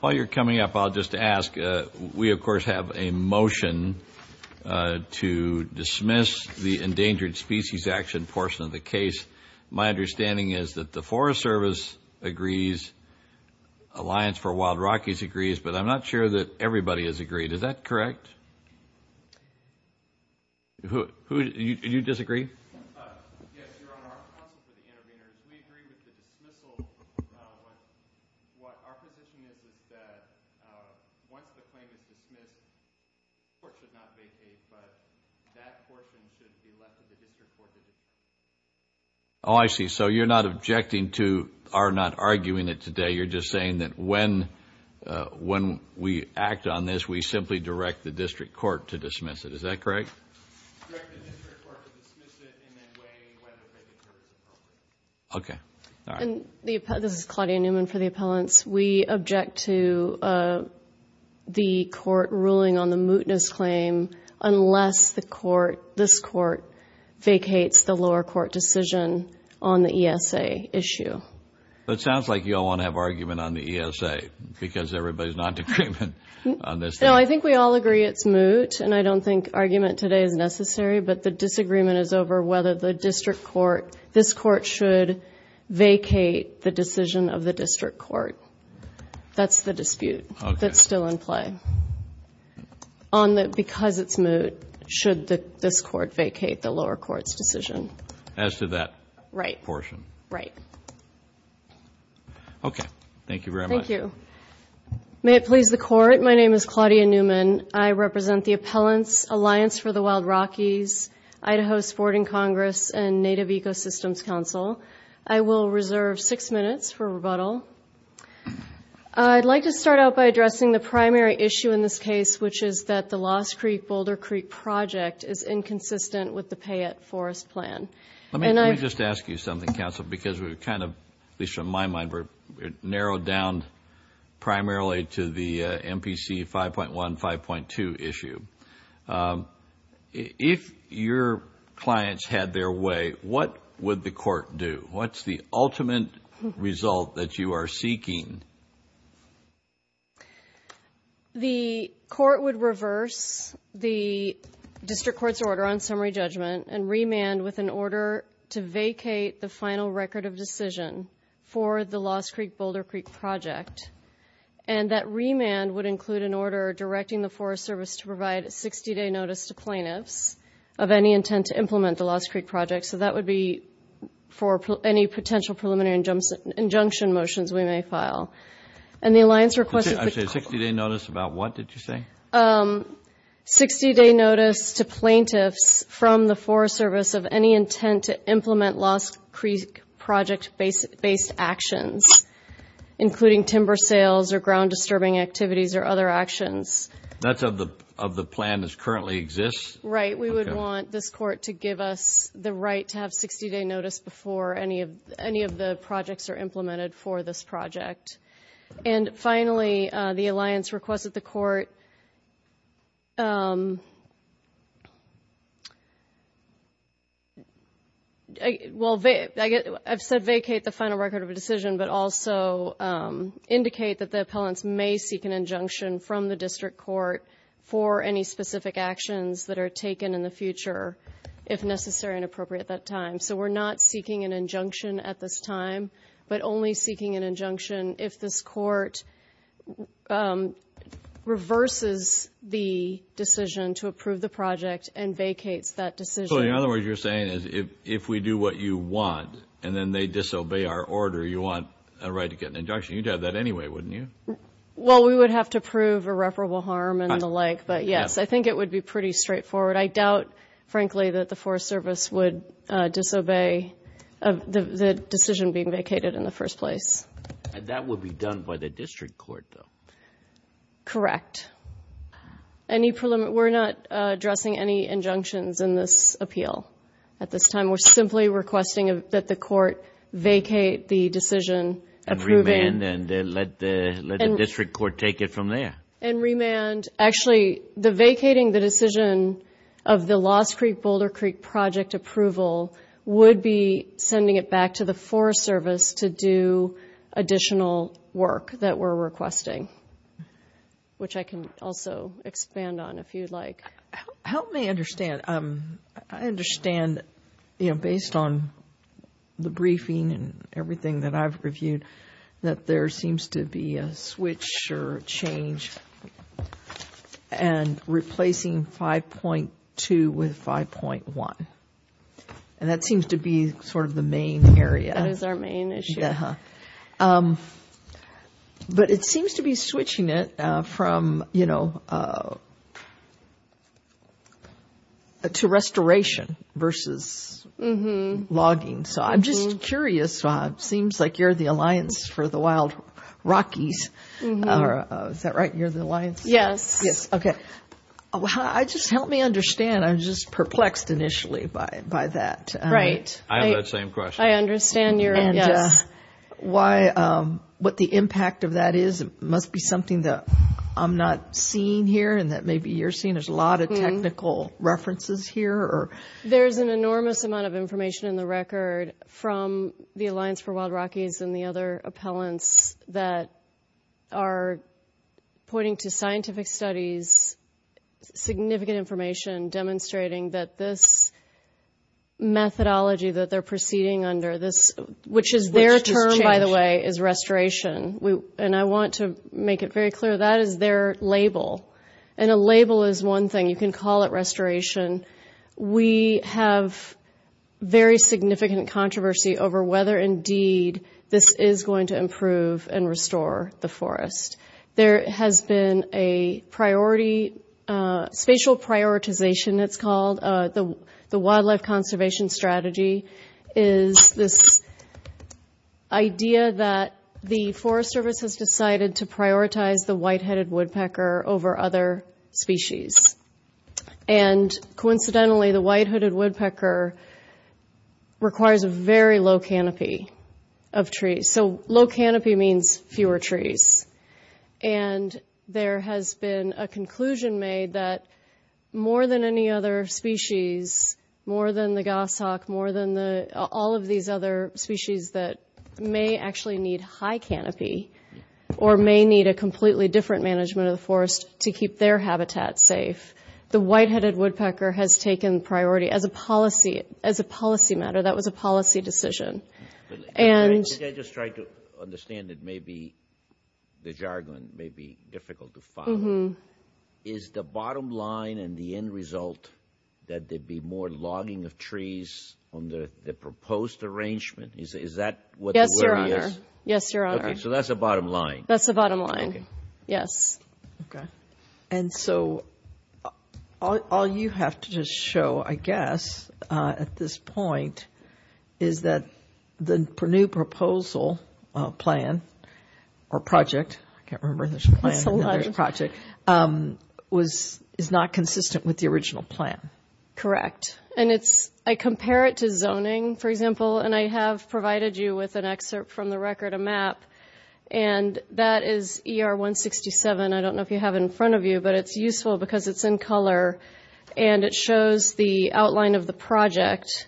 While you're coming up, I'll just ask, we of course have a motion to dismiss the Endangered Species Action portion of the case. My understanding is that the Forest Service agrees, Alliance for Wild Rockies agrees, but I'm not sure that everybody has agreed. Is that correct? Who, you disagree? Yes, Your Honor, our counsel for the intervener, we agree with the dismissal. What our position is is that once the claim is dismissed, the court should not vacate, but that portion should be left to the district court to dismiss. Oh, I see. So you're not objecting to our not arguing it today. You're just saying that when we act on this, we simply direct the district court to dismiss it. Is that correct? Direct the district court to dismiss it and then weigh whether it occurs appropriately. Okay. All right. This is Claudia Newman for the appellants. We object to the court ruling on the mootness claim unless the court, this court vacates the lower court decision on the ESA issue. It sounds like you all want to have argument on the ESA because everybody is not in agreement on this thing. No, I think we all agree it's moot, and I don't think argument today is necessary, but the disagreement is over whether the district court, this court should vacate the decision of the district court. That's the dispute that's still in play. On the because it's moot, should this court vacate the lower court's decision? As to that portion. Right. Okay. Thank you very much. Thank you. May it please the court. My name is Claudia Newman. I represent the appellants, Alliance for the Wild Rockies, Idaho Sporting Congress, and Native Ecosystems Council. I will reserve six minutes for rebuttal. I'd like to start out by addressing the primary issue in this case, which is that the Lost Creek-Boulder Creek project is inconsistent with the Payette Forest Plan. Let me just ask you something, counsel, because we're kind of, at least from my mind, we're narrowed down primarily to the MPC 5.1, 5.2 issue. If your clients had their way, what would the court do? What's the ultimate result that you are seeking? The court would reverse the district court's order on summary judgment and remand with an order to vacate the final record of decision for the Lost Creek-Boulder Creek project. And that remand would include an order directing the Forest Service to provide a 60-day notice to plaintiffs of any intent to implement the Lost Creek project. So that would be for any potential preliminary injunction motions we may file. And the Alliance requested... I'm sorry, a 60-day notice about what, did you say? 60-day notice to plaintiffs from the Forest Service of any intent to implement Lost Creek project-based actions, including timber sales or ground-disturbing activities or other actions. That's of the plan that currently exists? Right. We would want this court to give us the right to have 60-day notice before any of the projects are implemented for this project. And finally, the Alliance requested the court... Well, I've said vacate the final record of decision, but also indicate that the appellants may seek an injunction from the district court for any specific actions that are taken in the future, if necessary and appropriate at that time. So we're not seeking an injunction at this time, but only seeking an injunction if this court reverses the decision to approve the project and vacates that decision. So in other words, you're saying if we do what you want and then they disobey our order, you want a right to get an injunction. You'd have that anyway, wouldn't you? Well, we would have to prove irreparable harm and the like. But yes, I think it would be pretty straightforward. I doubt, frankly, that the Forest Service would disobey the decision being vacated in the first place. That would be done by the district court, though. Correct. We're not addressing any injunctions in this appeal at this time. We're simply requesting that the court vacate the decision... And remand and let the district court take it from there. And remand. Actually, the vacating the decision of the Lost Creek-Boulder Creek project approval would be sending it back to the Forest Service to do additional work that we're requesting, which I can also expand on if you'd like. Help me understand. I understand, you know, based on the briefing and everything that I've reviewed, that there seems to be a switch or change and replacing 5.2 with 5.1. And that seems to be sort of the main area. That is our main issue. Yeah. But it seems to be switching it from, you know, to restoration versus logging. So I'm just curious. It seems like you're the alliance for the Wild Rockies. Is that right? You're the alliance? Yes. Yes. Okay. Just help me understand. I'm just perplexed initially by that. Right. I have that same question. I understand your... And what the impact of that is. It must be something that I'm not seeing here and that maybe you're seeing. There's a lot of technical references here. There's an enormous amount of information in the record from the Alliance for Wild Rockies and the other appellants that are pointing to scientific studies, significant information demonstrating that this methodology that they're proceeding under, which is their term, by the way, is restoration. And I want to make it very clear that is their label. And a label is one thing. You can call it restoration. We have very significant controversy over whether, indeed, this is going to improve and restore the forest. There has been a priority, spatial prioritization, it's called. The wildlife conservation strategy is this idea that the Forest Service has decided to prioritize the white-headed woodpecker over other species. And coincidentally, the white-hooded woodpecker requires a very low canopy of trees. So low canopy means fewer trees. And there has been a conclusion made that more than any other species, more than the goshawk, more than all of these other species that may actually need high canopy or may need a completely different management of the forest to keep their habitat safe, the white-headed woodpecker has taken priority as a policy matter. That was a policy decision. I think I just tried to understand that maybe the jargon may be difficult to follow. Is the bottom line and the end result that there be more logging of trees under the proposed arrangement? Is that what the wording is? Yes, Your Honor. Okay, so that's the bottom line. That's the bottom line, yes. Okay. And so all you have to just show, I guess, at this point, is that the new proposal plan or project, I can't remember if there's a plan or there's a project, is not consistent with the original plan. Correct. And I compare it to zoning, for example, and I have provided you with an excerpt from the record, a map, and that is ER 167. I don't know if you have it in front of you, but it's useful because it's in color and it shows the outline of the project.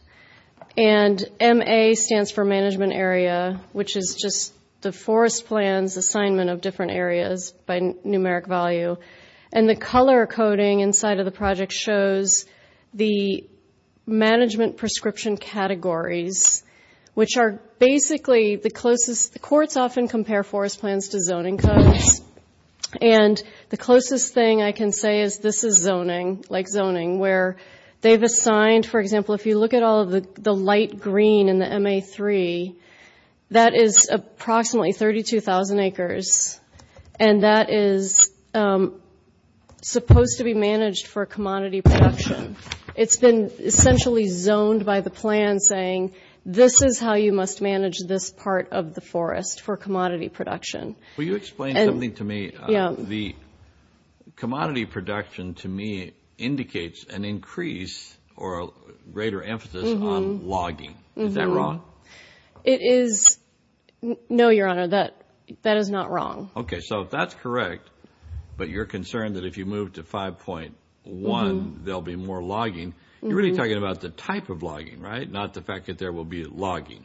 And MA stands for management area, which is just the forest plan's assignment of different areas by numeric value. And the color coding inside of the project shows the management prescription categories, which are basically the closest. The courts often compare forest plans to zoning codes. And the closest thing I can say is this is zoning, like zoning, where they've assigned, for example, if you look at all of the light green in the MA-3, that is approximately 32,000 acres, and that is supposed to be managed for commodity production. It's been essentially zoned by the plan, saying this is how you must manage this part of the forest for commodity production. Will you explain something to me? Yeah. The commodity production, to me, indicates an increase or a greater emphasis on logging. Is that wrong? It is. No, Your Honor, that is not wrong. Okay, so if that's correct, but you're concerned that if you move to 5.1, there'll be more logging, you're really talking about the type of logging, right, not the fact that there will be logging.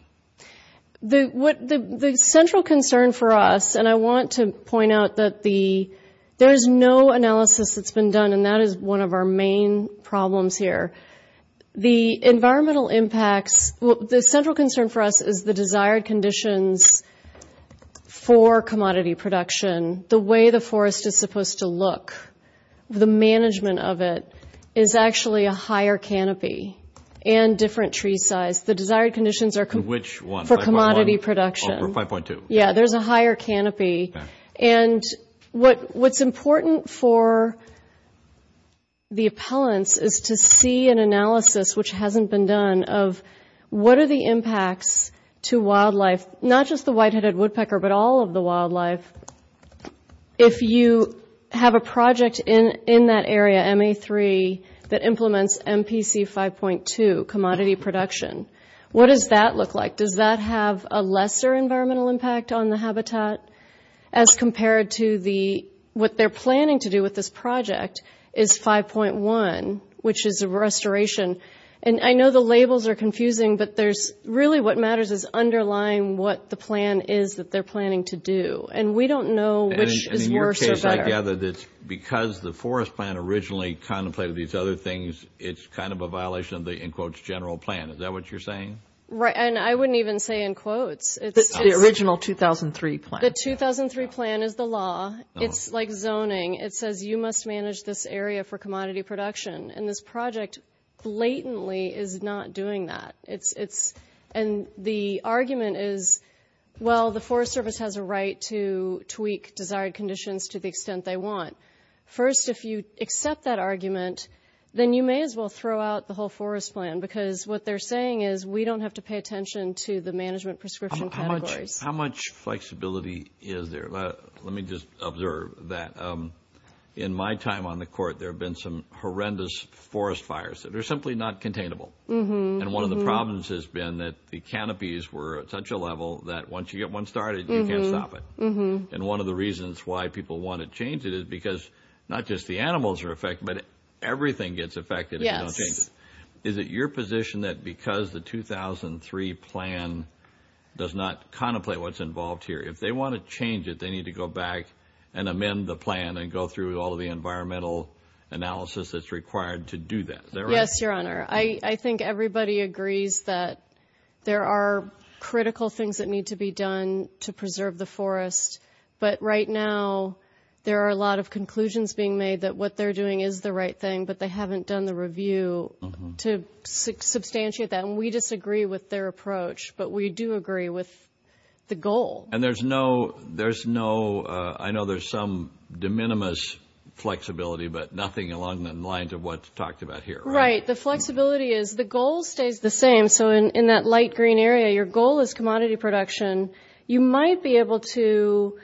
The central concern for us, and I want to point out that there is no analysis that's been done, and that is one of our main problems here. The environmental impacts, the central concern for us is the desired conditions for commodity production, the way the forest is supposed to look, the management of it is actually a higher canopy and different tree size. The desired conditions are for commodity production. Which one, 5.1 or 5.2? Yeah, there's a higher canopy. And what's important for the appellants is to see an analysis, which hasn't been done, of what are the impacts to wildlife, not just the white-headed woodpecker, but all of the wildlife, if you have a project in that area, MA3, that implements MPC 5.2, commodity production. What does that look like? Does that have a lesser environmental impact on the habitat as compared to what they're planning to do with this project, is 5.1, which is a restoration. And I know the labels are confusing, but really what matters is underlying what the plan is that they're planning to do. And we don't know which is worse or better. And in your case, I gather that because the forest plan originally contemplated these other things, it's kind of a violation of the, in quotes, general plan. Is that what you're saying? Right, and I wouldn't even say in quotes. The original 2003 plan. The 2003 plan is the law. It's like zoning. It says you must manage this area for commodity production. And this project blatantly is not doing that. And the argument is, well, the Forest Service has a right to tweak desired conditions to the extent they want. First, if you accept that argument, then you may as well throw out the whole forest plan, because what they're saying is we don't have to pay attention to the management prescription categories. How much flexibility is there? Let me just observe that. In my time on the court, there have been some horrendous forest fires that are simply not containable. And one of the problems has been that the canopies were at such a level that once you get one started, you can't stop it. And one of the reasons why people want to change it is because not just the animals are affected, but everything gets affected if you don't change it. Is it your position that because the 2003 plan does not contemplate what's involved here, if they want to change it, they need to go back and amend the plan and go through all of the environmental analysis that's required to do that? Is that right? Yes, Your Honor. I think everybody agrees that there are critical things that need to be done to preserve the forest. But right now, there are a lot of conclusions being made that what they're doing is the right thing, but they haven't done the review to substantiate that. And we disagree with their approach, but we do agree with the goal. And there's no – I know there's some de minimis flexibility, but nothing along the lines of what's talked about here, right? Right. The flexibility is the goal stays the same. So in that light green area, your goal is commodity production. You might be able to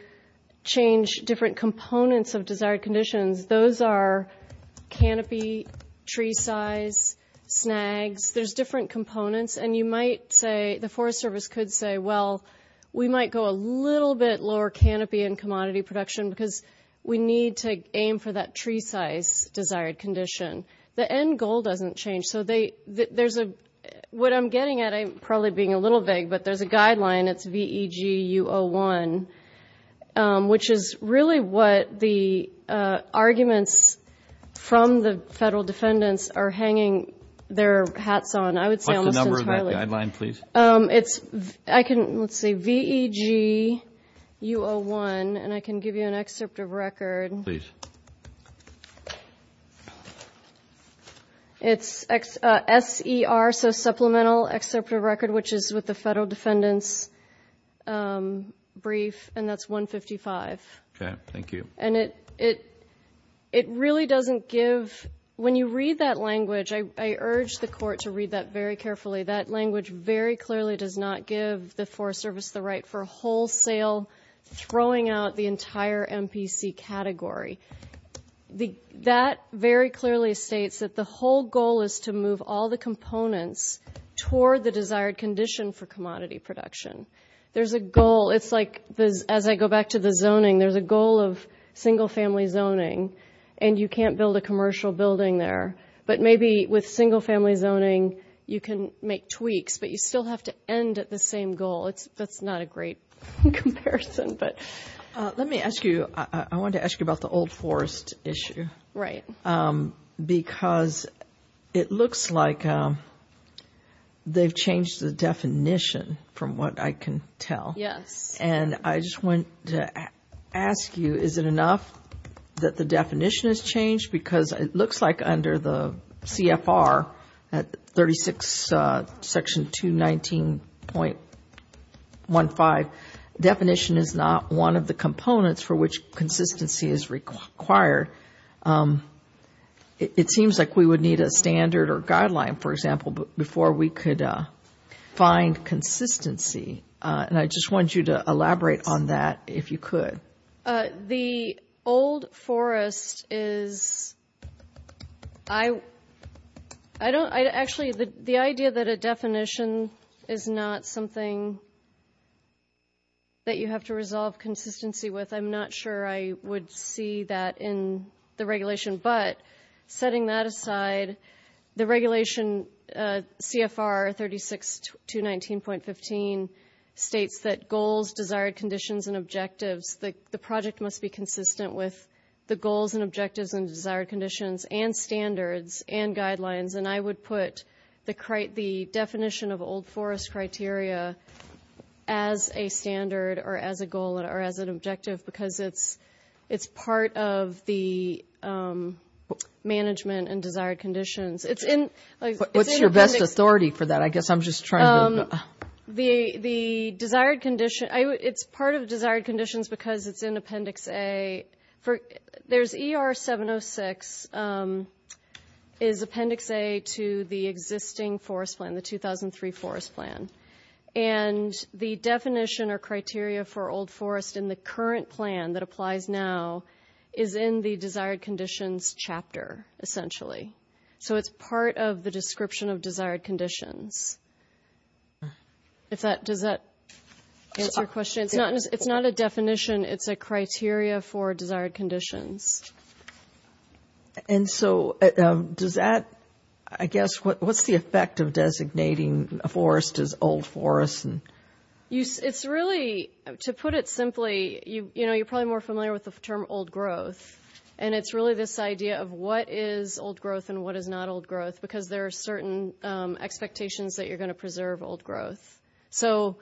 change different components of desired conditions. Those are canopy, tree size, snags. There's different components. And you might say – the Forest Service could say, well, we might go a little bit lower canopy in commodity production because we need to aim for that tree size desired condition. The end goal doesn't change. So there's a – what I'm getting at, I'm probably being a little vague, but there's a guideline. It's VEG-U01, which is really what the arguments from the federal defendants are hanging their hats on. I would say – What's the number of that guideline, please? It's – I can – let's see, VEG-U01, and I can give you an excerpt of record. Please. It's S-E-R, so supplemental excerpt of record, which is with the federal defendants' brief, and that's 155. Okay. Thank you. And it really doesn't give – when you read that language, I urge the court to read that very carefully. That language very clearly does not give the Forest Service the right for wholesale throwing out the entire MPC category. That very clearly states that the whole goal is to move all the components toward the desired condition for commodity production. There's a goal – it's like, as I go back to the zoning, there's a goal of single-family zoning, and you can't build a commercial building there. But maybe with single-family zoning, you can make tweaks, but you still have to end at the same goal. That's not a great comparison, but – Let me ask you – I wanted to ask you about the old forest issue. Right. Because it looks like they've changed the definition, from what I can tell. Yes. And I just wanted to ask you, is it enough that the definition has changed? Because it looks like under the CFR, 36 section 219.15, definition is not one of the components for which consistency is required. It seems like we would need a standard or guideline, for example, before we could find consistency. And I just wanted you to elaborate on that, if you could. The old forest is – I don't – actually, the idea that a definition is not something that you have to resolve consistency with, I'm not sure I would see that in the regulation. But setting that aside, the regulation CFR 36 219.15 states that goals, desired conditions, and objectives – the project must be consistent with the goals and objectives and desired conditions and standards and guidelines. And I would put the definition of old forest criteria as a standard or as a goal or as an objective, because it's part of the management and desired conditions. What's your best authority for that? I guess I'm just trying to – The desired condition – it's part of desired conditions because it's in Appendix A. There's ER 706 is Appendix A to the existing forest plan, the 2003 forest plan. And the definition or criteria for old forest in the current plan that applies now is in the desired conditions chapter, essentially. So it's part of the description of desired conditions. Does that answer your question? It's not a definition. It's a criteria for desired conditions. And so does that – I guess what's the effect of designating a forest as old forest? It's really – to put it simply, you're probably more familiar with the term old growth. And it's really this idea of what is old growth and what is not old growth, because there are certain expectations that you're going to preserve old growth. So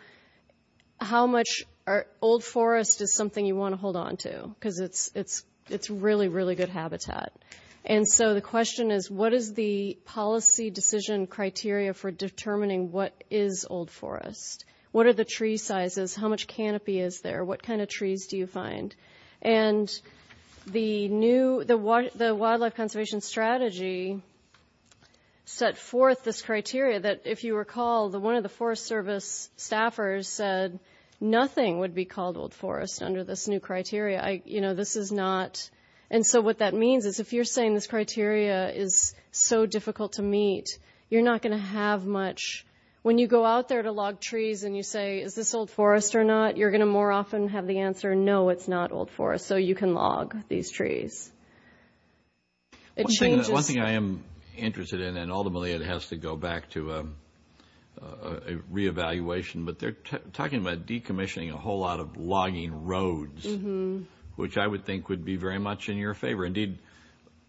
how much old forest is something you want to hold on to? Because it's really, really good habitat. And so the question is, what is the policy decision criteria for determining what is old forest? What are the tree sizes? How much canopy is there? What kind of trees do you find? And the new – the Wildlife Conservation Strategy set forth this criteria that, if you recall, one of the Forest Service staffers said nothing would be called old forest under this new criteria. You know, this is not – and so what that means is, if you're saying this criteria is so difficult to meet, you're not going to have much – when you go out there to log trees and you say, is this old forest or not, you're going to more often have the answer, no, it's not old forest. So you can log these trees. One thing I am interested in, and ultimately it has to go back to a reevaluation, but they're talking about decommissioning a whole lot of logging roads, which I would think would be very much in your favor. Indeed,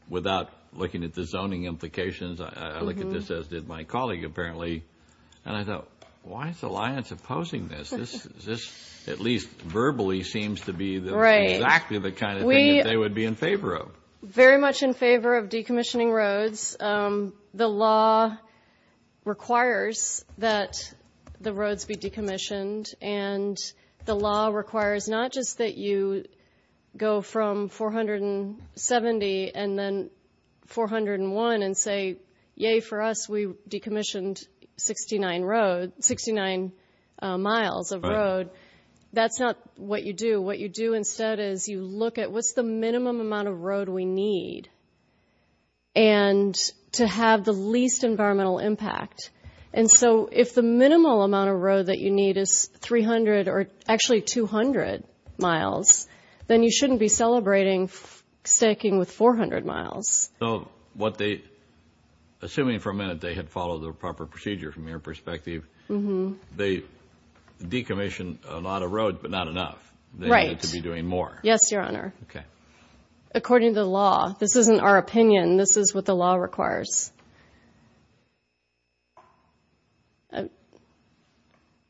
without looking at the zoning implications, I look at this, as did my colleague apparently, and I thought, why is Alliance opposing this? This at least verbally seems to be exactly the kind of thing that they would be in favor of. Very much in favor of decommissioning roads. The law requires that the roads be decommissioned, and the law requires not just that you go from 470 and then 401 and say, yay, for us, we decommissioned 69 miles of road. That's not what you do. What you do instead is you look at what's the minimum amount of road we need and to have the least environmental impact. And so if the minimal amount of road that you need is 300 or actually 200 miles, then you shouldn't be celebrating staking with 400 miles. Assuming for a minute they had followed the proper procedure from your perspective, they decommissioned a lot of roads but not enough. They need to be doing more. Yes, Your Honor. According to the law. This isn't our opinion. This is what the law requires.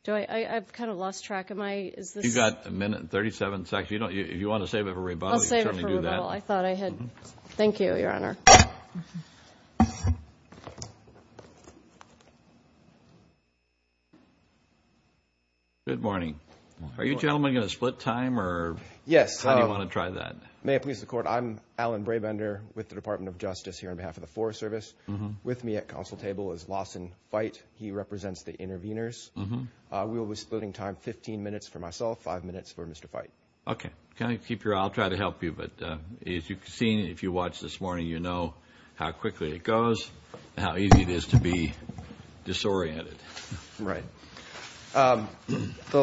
I've kind of lost track. You've got a minute and 37 seconds. If you want to save it for rebuttal, you can certainly do that. Well, I thought I had. Thank you, Your Honor. Good morning. Are you gentlemen going to split time? Yes. How do you want to try that? May it please the Court. I'm Alan Brabender with the Department of Justice here on behalf of the Forest Service. With me at counsel table is Lawson Fite. He represents the interveners. We will be splitting time 15 minutes for myself, 5 minutes for Mr. Fite. Okay. I'll try to help you. But as you've seen, if you watched this morning, you know how quickly it goes and how easy it is to be disoriented. Right. The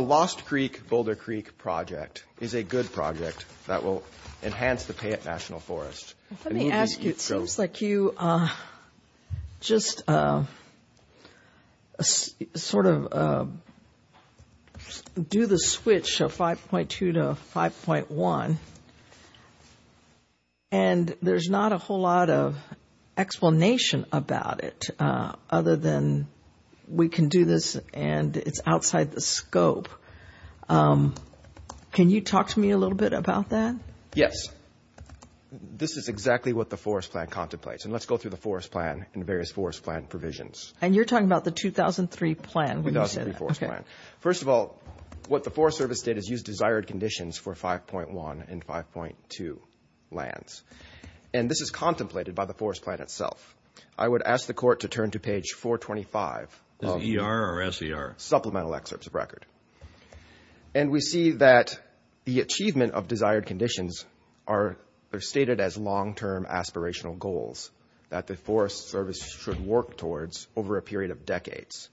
Lost Creek-Boulder Creek project is a good project that will enhance the Payette National Forest. Let me ask you, it seems like you just sort of do the switch of 5.2 to 5.1, and there's not a whole lot of explanation about it other than we can do this and it's outside the scope. Can you talk to me a little bit about that? Yes. This is exactly what the Forest Plan contemplates. And let's go through the Forest Plan and the various Forest Plan provisions. And you're talking about the 2003 plan when you say that. The 2003 Forest Plan. First of all, what the Forest Service did is use desired conditions for 5.1 and 5.2 lands. And this is contemplated by the Forest Plan itself. I would ask the Court to turn to page 425. Is it ER or SER? Supplemental excerpts of record. And we see that the achievement of desired conditions are stated as long-term aspirational goals that the Forest Service should work towards over a period of decades.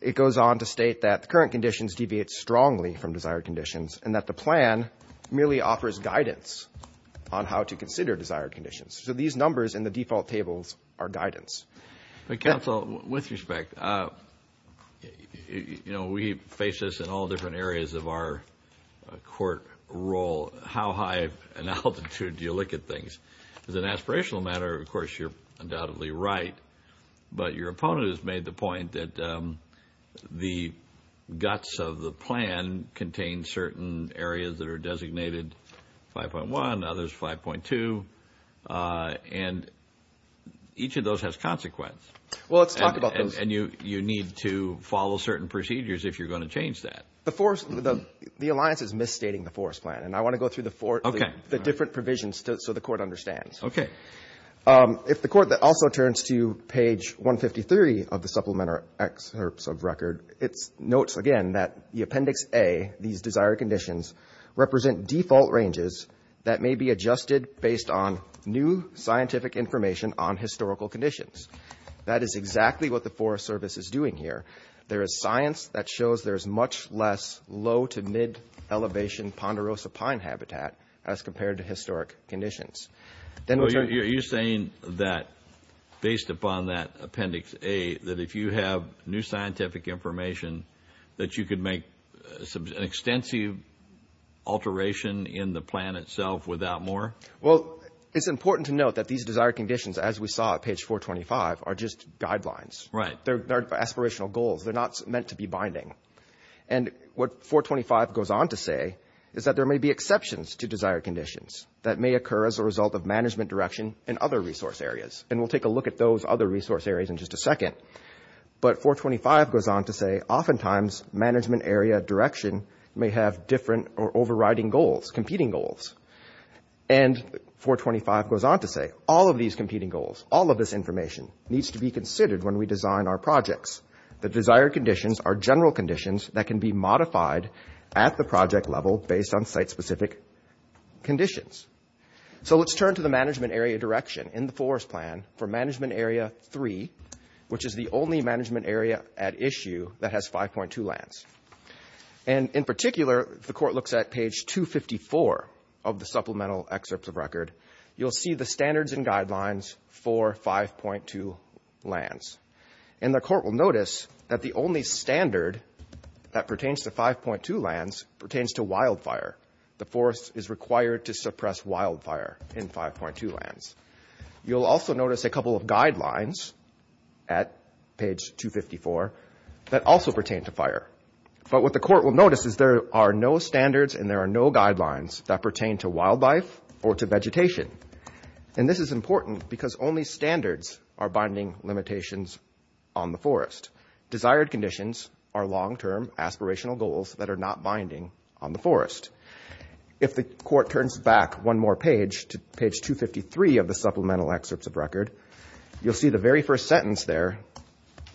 It goes on to state that the current conditions deviate strongly from desired conditions and that the plan merely offers guidance on how to consider desired conditions. So these numbers in the default tables are guidance. Counsel, with respect, we face this in all different areas of our court role. How high of an altitude do you look at things? As an aspirational matter, of course, you're undoubtedly right. But your opponent has made the point that the guts of the plan contain certain areas that are designated 5.1, others 5.2. And each of those has consequence. Well, let's talk about those. And you need to follow certain procedures if you're going to change that. The alliance is misstating the Forest Plan. And I want to go through the different provisions so the Court understands. Okay. If the Court also turns to page 153 of the supplemental excerpts of record, it notes again that the Appendix A, these desired conditions, represent default ranges that may be adjusted based on new scientific information on historical conditions. That is exactly what the Forest Service is doing here. There is science that shows there is much less low to mid-elevation ponderosa pine habitat as compared to historic conditions. You're saying that based upon that Appendix A, that if you have new scientific information, that you could make an extensive alteration in the plan itself without more? Well, it's important to note that these desired conditions, as we saw at page 425, are just guidelines. Right. They're aspirational goals. They're not meant to be binding. And what 425 goes on to say is that there may be exceptions to desired conditions that may occur as a result of management direction in other resource areas. But 425 goes on to say oftentimes management area direction may have different or overriding goals, competing goals. And 425 goes on to say all of these competing goals, all of this information, needs to be considered when we design our projects. The desired conditions are general conditions that can be modified at the project level based on site-specific conditions. So let's turn to the management area direction in the forest plan for management area 3, which is the only management area at issue that has 5.2 lands. And in particular, if the court looks at page 254 of the supplemental excerpts of record, you'll see the standards and guidelines for 5.2 lands. And the court will notice that the only standard that pertains to 5.2 lands pertains to wildfire. The forest is required to suppress wildfire in 5.2 lands. You'll also notice a couple of guidelines at page 254 that also pertain to fire. But what the court will notice is there are no standards and there are no guidelines that pertain to wildlife or to vegetation. And this is important because only standards are binding limitations on the forest. Desired conditions are long-term aspirational goals that are not binding on the forest. If the court turns back one more page to page 253 of the supplemental excerpts of record, you'll see the very first sentence there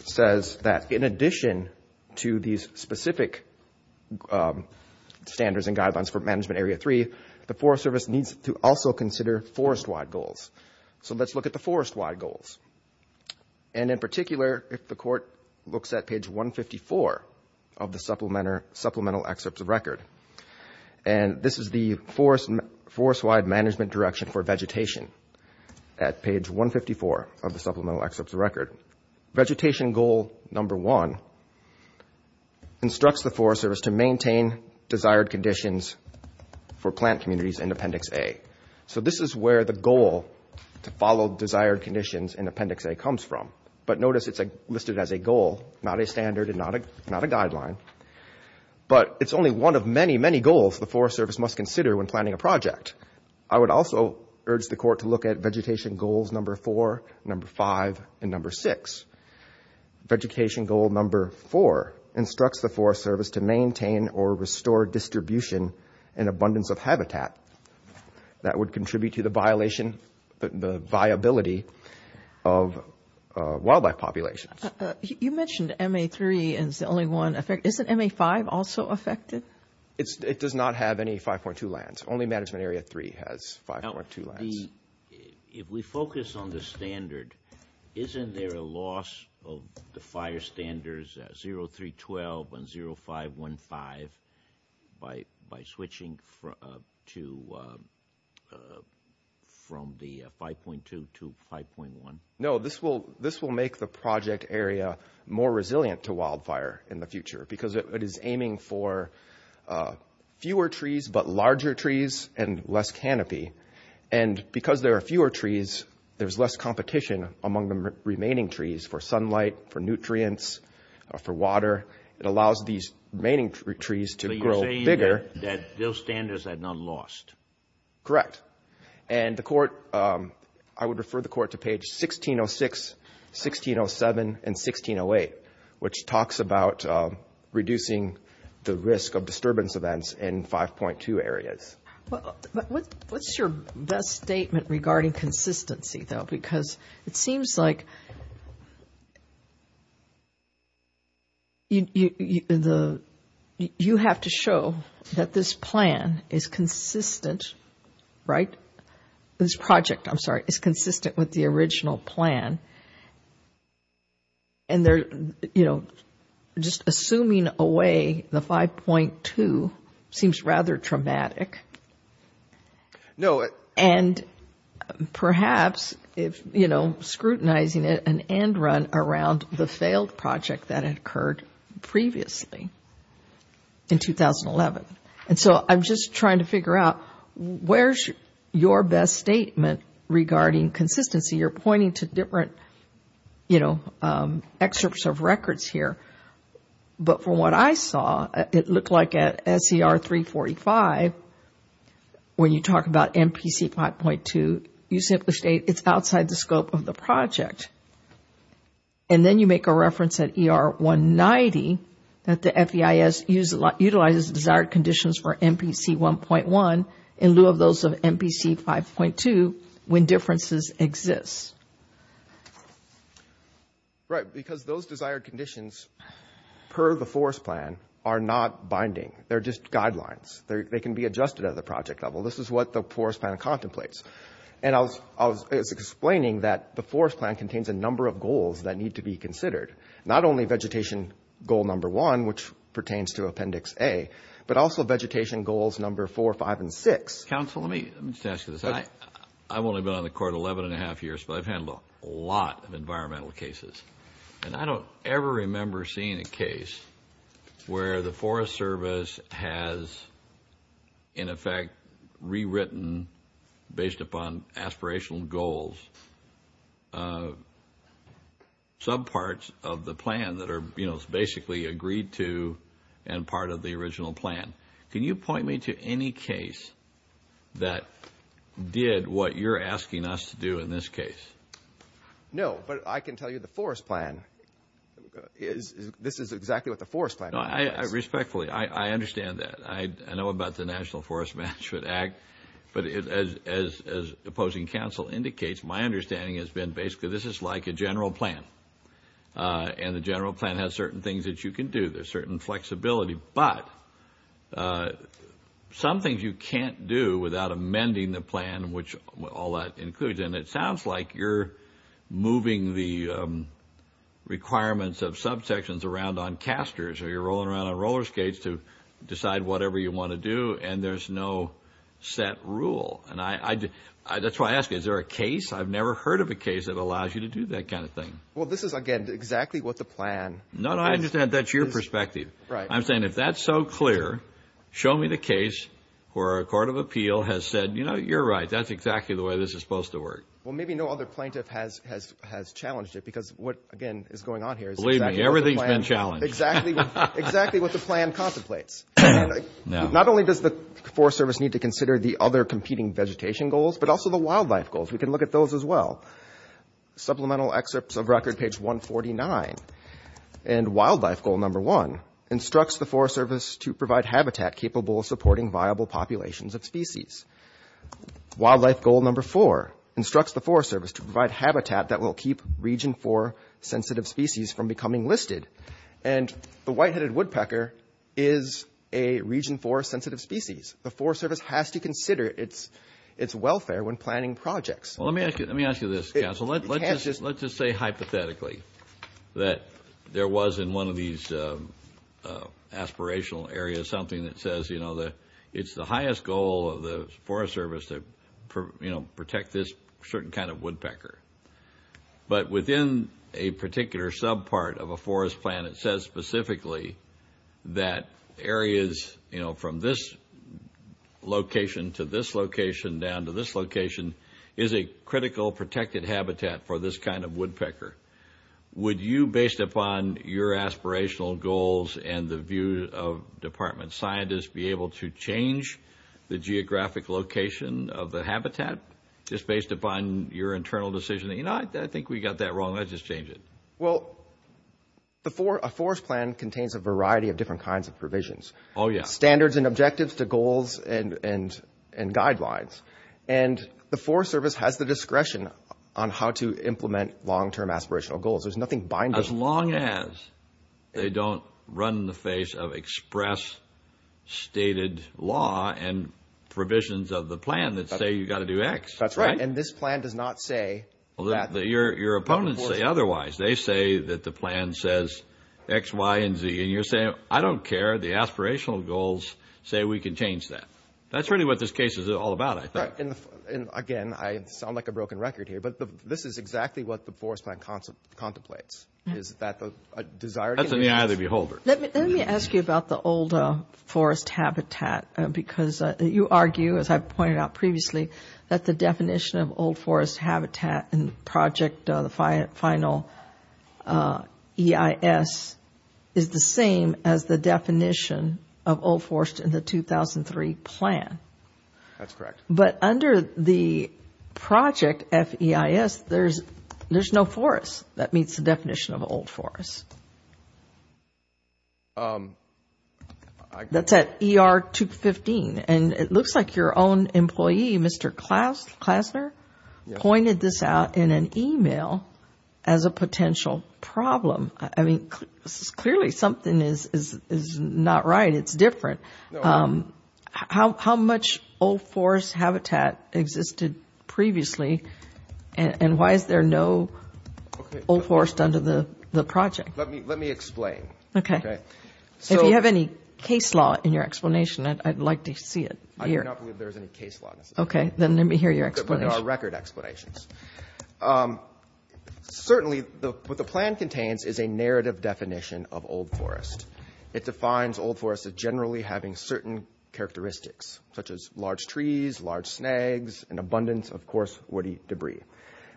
says that in addition to these specific standards and guidelines for management area 3, the Forest Service needs to also consider forest-wide goals. So let's look at the forest-wide goals. And in particular, if the court looks at page 154 of the supplemental excerpts of record, and this is the forest-wide management direction for vegetation at page 154 of the supplemental excerpts of record. Vegetation goal number one instructs the Forest Service to maintain desired conditions for plant communities in Appendix A. So this is where the goal to follow desired conditions in Appendix A comes from. But notice it's listed as a goal, not a standard and not a guideline. But it's only one of many, many goals the Forest Service must consider when planning a project. I would also urge the court to look at vegetation goals number four, number five, and number six. Vegetation goal number four instructs the Forest Service to maintain or restore distribution and abundance of habitat. That would contribute to the viability of wildlife populations. You mentioned MA3 is the only one. Isn't MA5 also affected? It does not have any 5.2 lands. Only management area 3 has 5.2 lands. If we focus on the standard, isn't there a loss of the fire standards 0312 and 0515 by switching from the 5.2 to 5.1? No, this will make the project area more resilient to wildfire in the future because it is aiming for fewer trees but larger trees and less canopy. And because there are fewer trees, there's less competition among the remaining trees for sunlight, for nutrients, for water. It allows these remaining trees to grow bigger. But you're saying that those standards are not lost. Correct. And the court, I would refer the court to page 1606, 1607, and 1608, which talks about reducing the risk of disturbance events in 5.2 areas. What's your best statement regarding consistency, though? Because it seems like you have to show that this plan is consistent, right? This project, I'm sorry, is consistent with the original plan. And, you know, just assuming away the 5.2 seems rather traumatic. No. And perhaps, you know, scrutinizing it, an end run around the failed project that had occurred previously in 2011. And so I'm just trying to figure out where's your best statement regarding consistency? You're pointing to different, you know, excerpts of records here. But from what I saw, it looked like at SER 345, when you talk about MPC 5.2, you simply state it's outside the scope of the project. And then you make a reference at ER 190 that the FEIS utilizes desired conditions for MPC 1.1 in lieu of those of MPC 5.2 when differences exist. Right, because those desired conditions per the forest plan are not binding. They're just guidelines. They can be adjusted at the project level. This is what the forest plan contemplates. And I was explaining that the forest plan contains a number of goals that need to be considered, not only vegetation goal number one, which pertains to Appendix A, but also vegetation goals number four, five, and six. Counsel, let me just ask you this. I've only been on the court 11 1⁄2 years, but I've handled a lot of environmental cases. And I don't ever remember seeing a case where the Forest Service has, in effect, rewritten based upon aspirational goals some parts of the plan that are, you know, almost basically agreed to and part of the original plan. Can you point me to any case that did what you're asking us to do in this case? No, but I can tell you the forest plan is this is exactly what the forest plan implies. Respectfully, I understand that. I know about the National Forest Management Act. But as opposing counsel indicates, my understanding has been basically this is like a general plan, and the general plan has certain things that you can do. There's certain flexibility. But some things you can't do without amending the plan, which all that includes. And it sounds like you're moving the requirements of subsections around on casters or you're rolling around on roller skates to decide whatever you want to do, and there's no set rule. And that's why I ask you, is there a case? I've never heard of a case that allows you to do that kind of thing. Well, this is, again, exactly what the plan. No, no, I understand. That's your perspective. Right. I'm saying if that's so clear, show me the case where a court of appeal has said, you know, you're right. That's exactly the way this is supposed to work. Well, maybe no other plaintiff has challenged it because what, again, is going on here is exactly what the plan. Believe me, everything's been challenged. Exactly what the plan contemplates. Not only does the Forest Service need to consider the other competing vegetation goals, but also the wildlife goals. We can look at those as well. Supplemental excerpts of record, page 149. And wildlife goal number one instructs the Forest Service to provide habitat capable of supporting viable populations of species. Wildlife goal number four instructs the Forest Service to provide habitat that will keep Region 4 sensitive species from becoming listed. And the white-headed woodpecker is a Region 4 sensitive species. The Forest Service has to consider its welfare when planning projects. Well, let me ask you this, counsel. Let's just say hypothetically that there was in one of these aspirational areas something that says, you know, it's the highest goal of the Forest Service to, you know, protect this certain kind of woodpecker. But within a particular subpart of a forest plan, it says specifically that areas, you know, from this location to this location down to this location is a critical protected habitat for this kind of woodpecker. Would you, based upon your aspirational goals and the view of department scientists, be able to change the geographic location of the habitat just based upon your internal decision? You know, I think we got that wrong. Let's just change it. Well, a forest plan contains a variety of different kinds of provisions. Oh, yeah. Standards and objectives to goals and guidelines. And the Forest Service has the discretion on how to implement long-term aspirational goals. There's nothing binding. As long as they don't run in the face of express stated law and provisions of the plan that say you've got to do X. That's right. And this plan does not say that. Your opponents say otherwise. They say that the plan says X, Y, and Z. And you're saying, I don't care. The aspirational goals say we can change that. That's really what this case is all about, I think. Right. And, again, I sound like a broken record here, but this is exactly what the forest plan contemplates. Is that the desire? That's an eye of the beholder. Let me ask you about the old forest habitat because you argue, as I pointed out previously, that the definition of old forest habitat in the project, the final EIS, is the same as the definition of old forest in the 2003 plan. That's correct. But under the project FEIS, there's no forest that meets the definition of old forest. That's at ER 215. And it looks like your own employee, Mr. Klassner, pointed this out in an e-mail as a potential problem. I mean, clearly something is not right. It's different. How much old forest habitat existed previously and why is there no old forest under the project? Let me explain. Okay. If you have any case law in your explanation, I'd like to see it here. I do not believe there is any case law. Okay. Then let me hear your explanation. There are record explanations. Certainly what the plan contains is a narrative definition of old forest. It defines old forest as generally having certain characteristics, such as large trees, large snags, and abundance of coarse woody debris.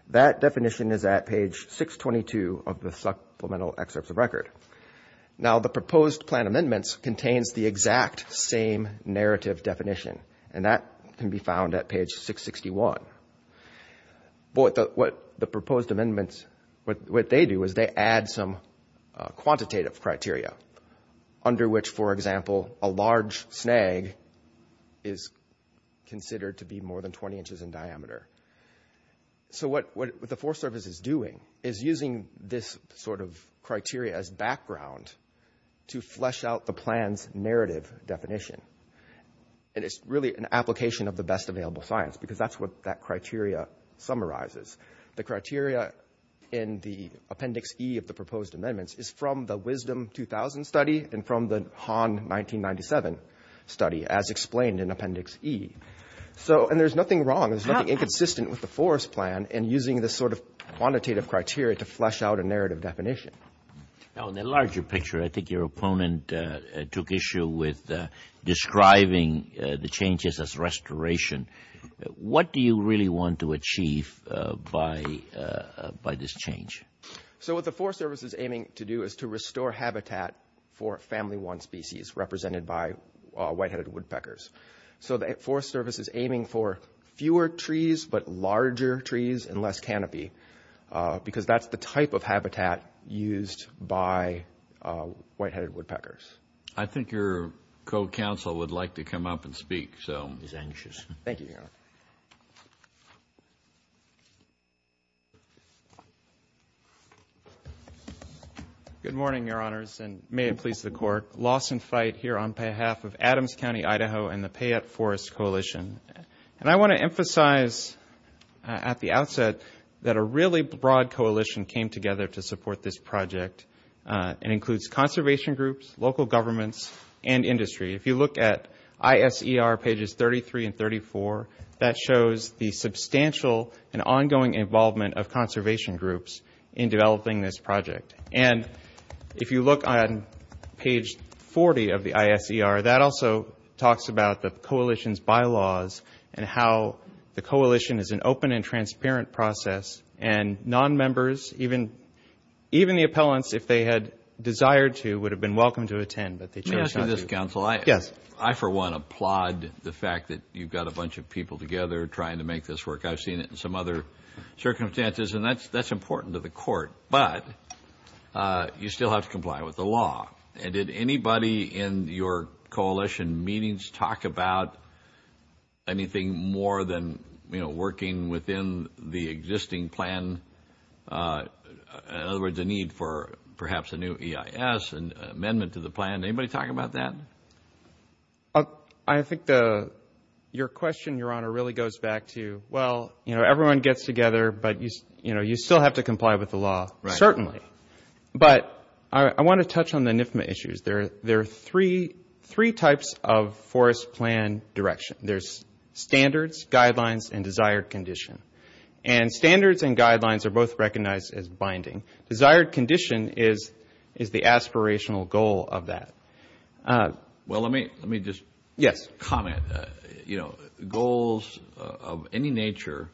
That definition is at page 622 of the supplemental excerpts of record. Now, the proposed plan amendments contains the exact same narrative definition, and that can be found at page 661. What the proposed amendments, what they do is they add some quantitative criteria under which, for example, a large snag is considered to be more than 20 inches in diameter. So what the Forest Service is doing is using this sort of criteria as background to flesh out the plan's narrative definition. And it's really an application of the best available science because that's what that criteria summarizes. The criteria in the Appendix E of the proposed amendments is from the Wisdom 2000 study and from the Hahn 1997 study, as explained in Appendix E. So, and there's nothing wrong, there's nothing inconsistent with the forest plan in using this sort of quantitative criteria to flesh out a narrative definition. Now, in the larger picture, I think your opponent took issue with describing the changes as restoration. What do you really want to achieve by this change? So what the Forest Service is aiming to do is to restore habitat for family one species represented by white-headed woodpeckers. So the Forest Service is aiming for fewer trees but larger trees and less canopy because that's the type of habitat used by white-headed woodpeckers. I think your co-counsel would like to come up and speak. He's anxious. Thank you, Your Honor. Good morning, Your Honors, and may it please the Court. Lawson Fite here on behalf of Adams County, Idaho and the Payette Forest Coalition. And I want to emphasize at the outset that a really broad coalition came together to support this project. It includes conservation groups, local governments, and industry. If you look at ISER pages 33 and 34, that shows the substantial and ongoing involvement of conservation groups in developing this project. And if you look on page 40 of the ISER, that also talks about the coalition's bylaws and how the coalition is an open and transparent process. And nonmembers, even the appellants, if they had desired to, would have been welcome to attend, but they chose not to. Mr. Counsel, I, for one, applaud the fact that you've got a bunch of people together trying to make this work. I've seen it in some other circumstances, and that's important to the Court. But you still have to comply with the law. And did anybody in your coalition meetings talk about anything more than, you know, working within the existing plan? In other words, a need for perhaps a new EIS, an amendment to the plan. Anybody talk about that? I think your question, Your Honor, really goes back to, well, you know, everyone gets together, but, you know, you still have to comply with the law. Certainly. But I want to touch on the NFMA issues. There are three types of forest plan direction. There's standards, guidelines, and desired condition. And standards and guidelines are both recognized as binding. Desired condition is the aspirational goal of that. Well, let me just comment. You know, goals of any nature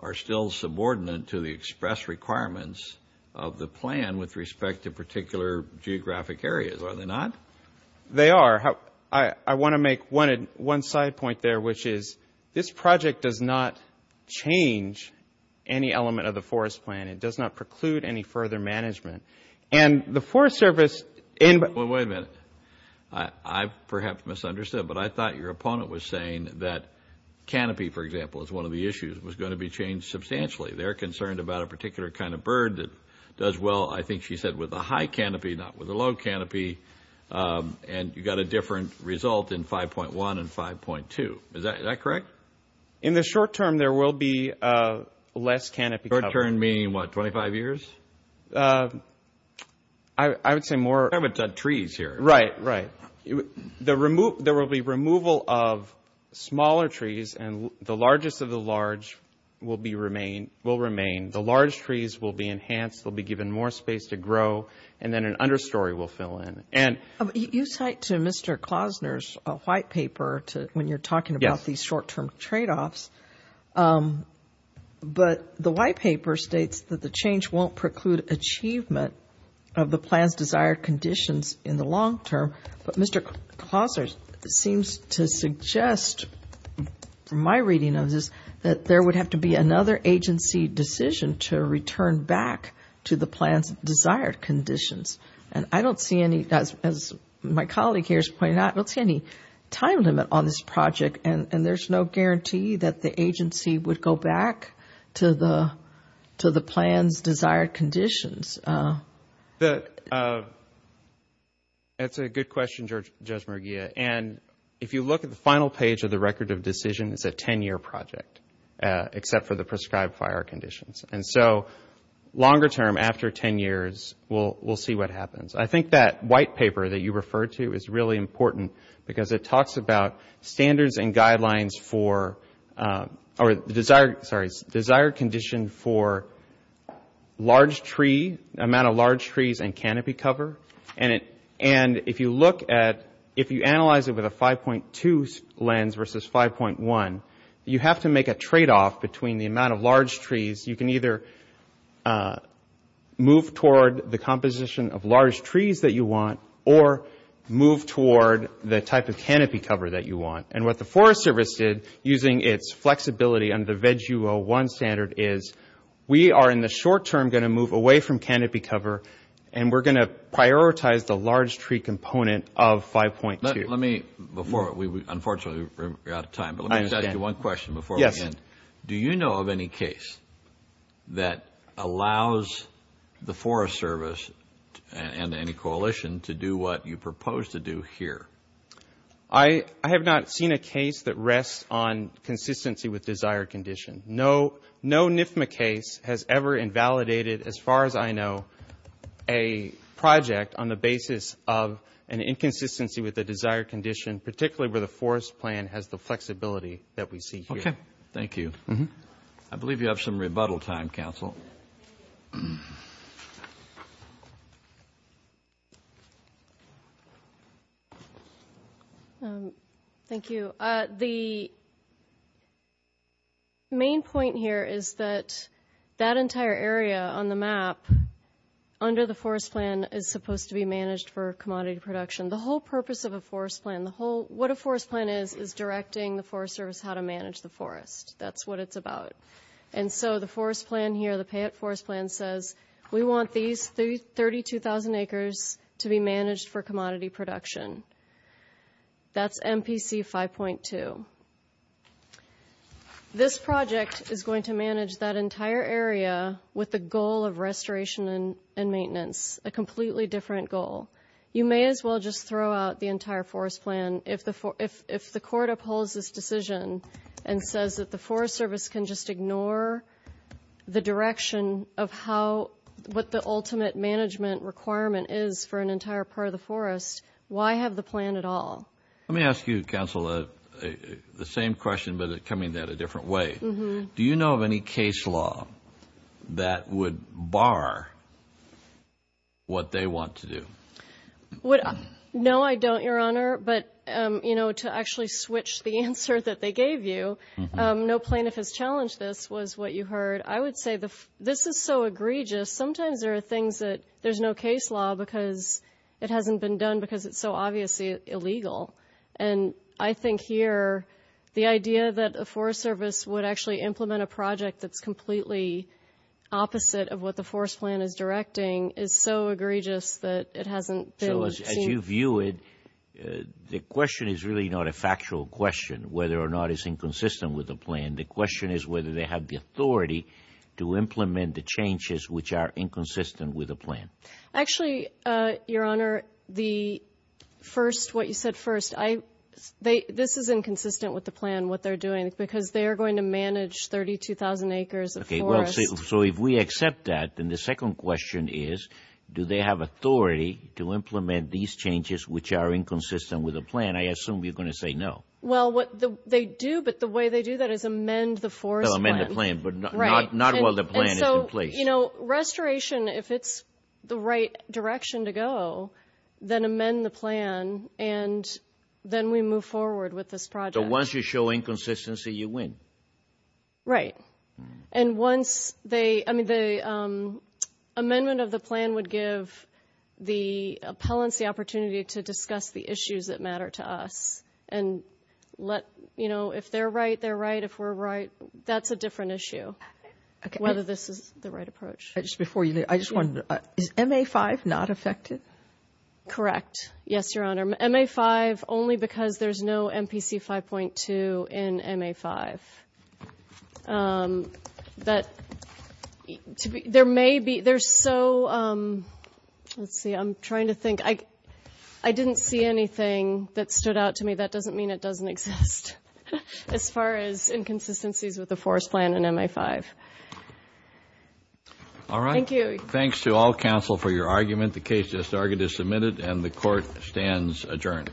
are still subordinate to the express requirements of the plan with respect to particular geographic areas, are they not? They are. I want to make one side point there, which is this project does not change any element of the forest plan. It does not preclude any further management. And the Forest Service ñ Well, wait a minute. I perhaps misunderstood, but I thought your opponent was saying that canopy, for example, is one of the issues, was going to be changed substantially. They're concerned about a particular kind of bird that does well, I think she said, with a high canopy, not with a low canopy, and you got a different result in 5.1 and 5.2. Is that correct? In the short term, there will be less canopy cover. Short term meaning what, 25 years? I would say more. We're talking about trees here. Right, right. There will be removal of smaller trees, and the largest of the large will remain. The large trees will be enhanced. They'll be given more space to grow, and then an understory will fill in. You cite to Mr. Klausner's white paper when you're talking about these short-term tradeoffs. But the white paper states that the change won't preclude achievement of the plan's desired conditions in the long term. But Mr. Klausner seems to suggest, from my reading of this, that there would have to be another agency decision to return back to the plan's desired conditions. And I don't see any, as my colleague here has pointed out, I don't see any time limit on this project. And there's no guarantee that the agency would go back to the plan's desired conditions. That's a good question, Judge Merguia. And if you look at the final page of the Record of Decision, it's a 10-year project, except for the prescribed fire conditions. And so longer term, after 10 years, we'll see what happens. I think that white paper that you referred to is really important because it talks about standards and guidelines for – or the desired – sorry – desired condition for large tree – amount of large trees and canopy cover. And if you look at – if you analyze it with a 5.2 lens versus 5.1, you have to make a tradeoff between the amount of large trees. You can either move toward the composition of large trees that you want or move toward the type of canopy cover that you want. And what the Forest Service did, using its flexibility under the VEG U01 standard, is we are in the short term going to move away from canopy cover, and we're going to prioritize the large tree component of 5.2. Let me – before we – unfortunately, we're out of time. But let me just ask you one question before we end. Do you know of any case that allows the Forest Service and any coalition to do what you propose to do here? I have not seen a case that rests on consistency with desired condition. No NIFMA case has ever invalidated, as far as I know, a project on the basis of an inconsistency with the desired condition, particularly where the forest plan has the flexibility that we see here. Okay. Thank you. I believe you have some rebuttal time, counsel. Thank you. The main point here is that that entire area on the map under the forest plan is supposed to be managed for commodity production. The whole purpose of a forest plan, what a forest plan is, is directing the Forest Service how to manage the forest. That's what it's about. And so the forest plan here, the payout forest plan, says we want these 32,000 acres to be managed for commodity production. That's MPC 5.2. This project is going to manage that entire area with the goal of restoration and maintenance, a completely different goal. You may as well just throw out the entire forest plan. If the court upholds this decision and says that the Forest Service can just ignore the direction of how, what the ultimate management requirement is for an entire part of the forest, why have the plan at all? Let me ask you, counsel, the same question but coming at it a different way. Do you know of any case law that would bar what they want to do? No, I don't, Your Honor. But, you know, to actually switch the answer that they gave you, no plaintiff has challenged this, was what you heard. I would say this is so egregious. Sometimes there are things that there's no case law because it hasn't been done because it's so obviously illegal. And I think here the idea that the Forest Service would actually implement a project that's completely opposite of what the forest plan is directing is so egregious that it hasn't been seen. So as you view it, the question is really not a factual question whether or not it's inconsistent with the plan. The question is whether they have the authority to implement the changes which are inconsistent with the plan. Actually, Your Honor, the first, what you said first, this is inconsistent with the plan, what they're doing, because they are going to manage 32,000 acres of forest. So if we accept that, then the second question is do they have authority to implement these changes which are inconsistent with the plan? I assume you're going to say no. Well, they do, but the way they do that is amend the forest plan. Amend the plan, but not while the plan is in place. You know, restoration, if it's the right direction to go, then amend the plan, and then we move forward with this project. So once you show inconsistency, you win. Right. And once they, I mean, the amendment of the plan would give the appellants the opportunity to discuss the issues that matter to us and let, you know, if they're right, they're right. If we're right, that's a different issue, whether this is the right approach. Before you leave, I just wanted to, is MA-5 not affected? Correct. Yes, Your Honor. MA-5 only because there's no MPC 5.2 in MA-5. There may be, there's so, let's see, I'm trying to think. I didn't see anything that stood out to me. That doesn't mean it doesn't exist as far as inconsistencies with the forest plan in MA-5. All right. Thank you. Thanks to all counsel for your argument. The case is submitted and the Court stands adjourned.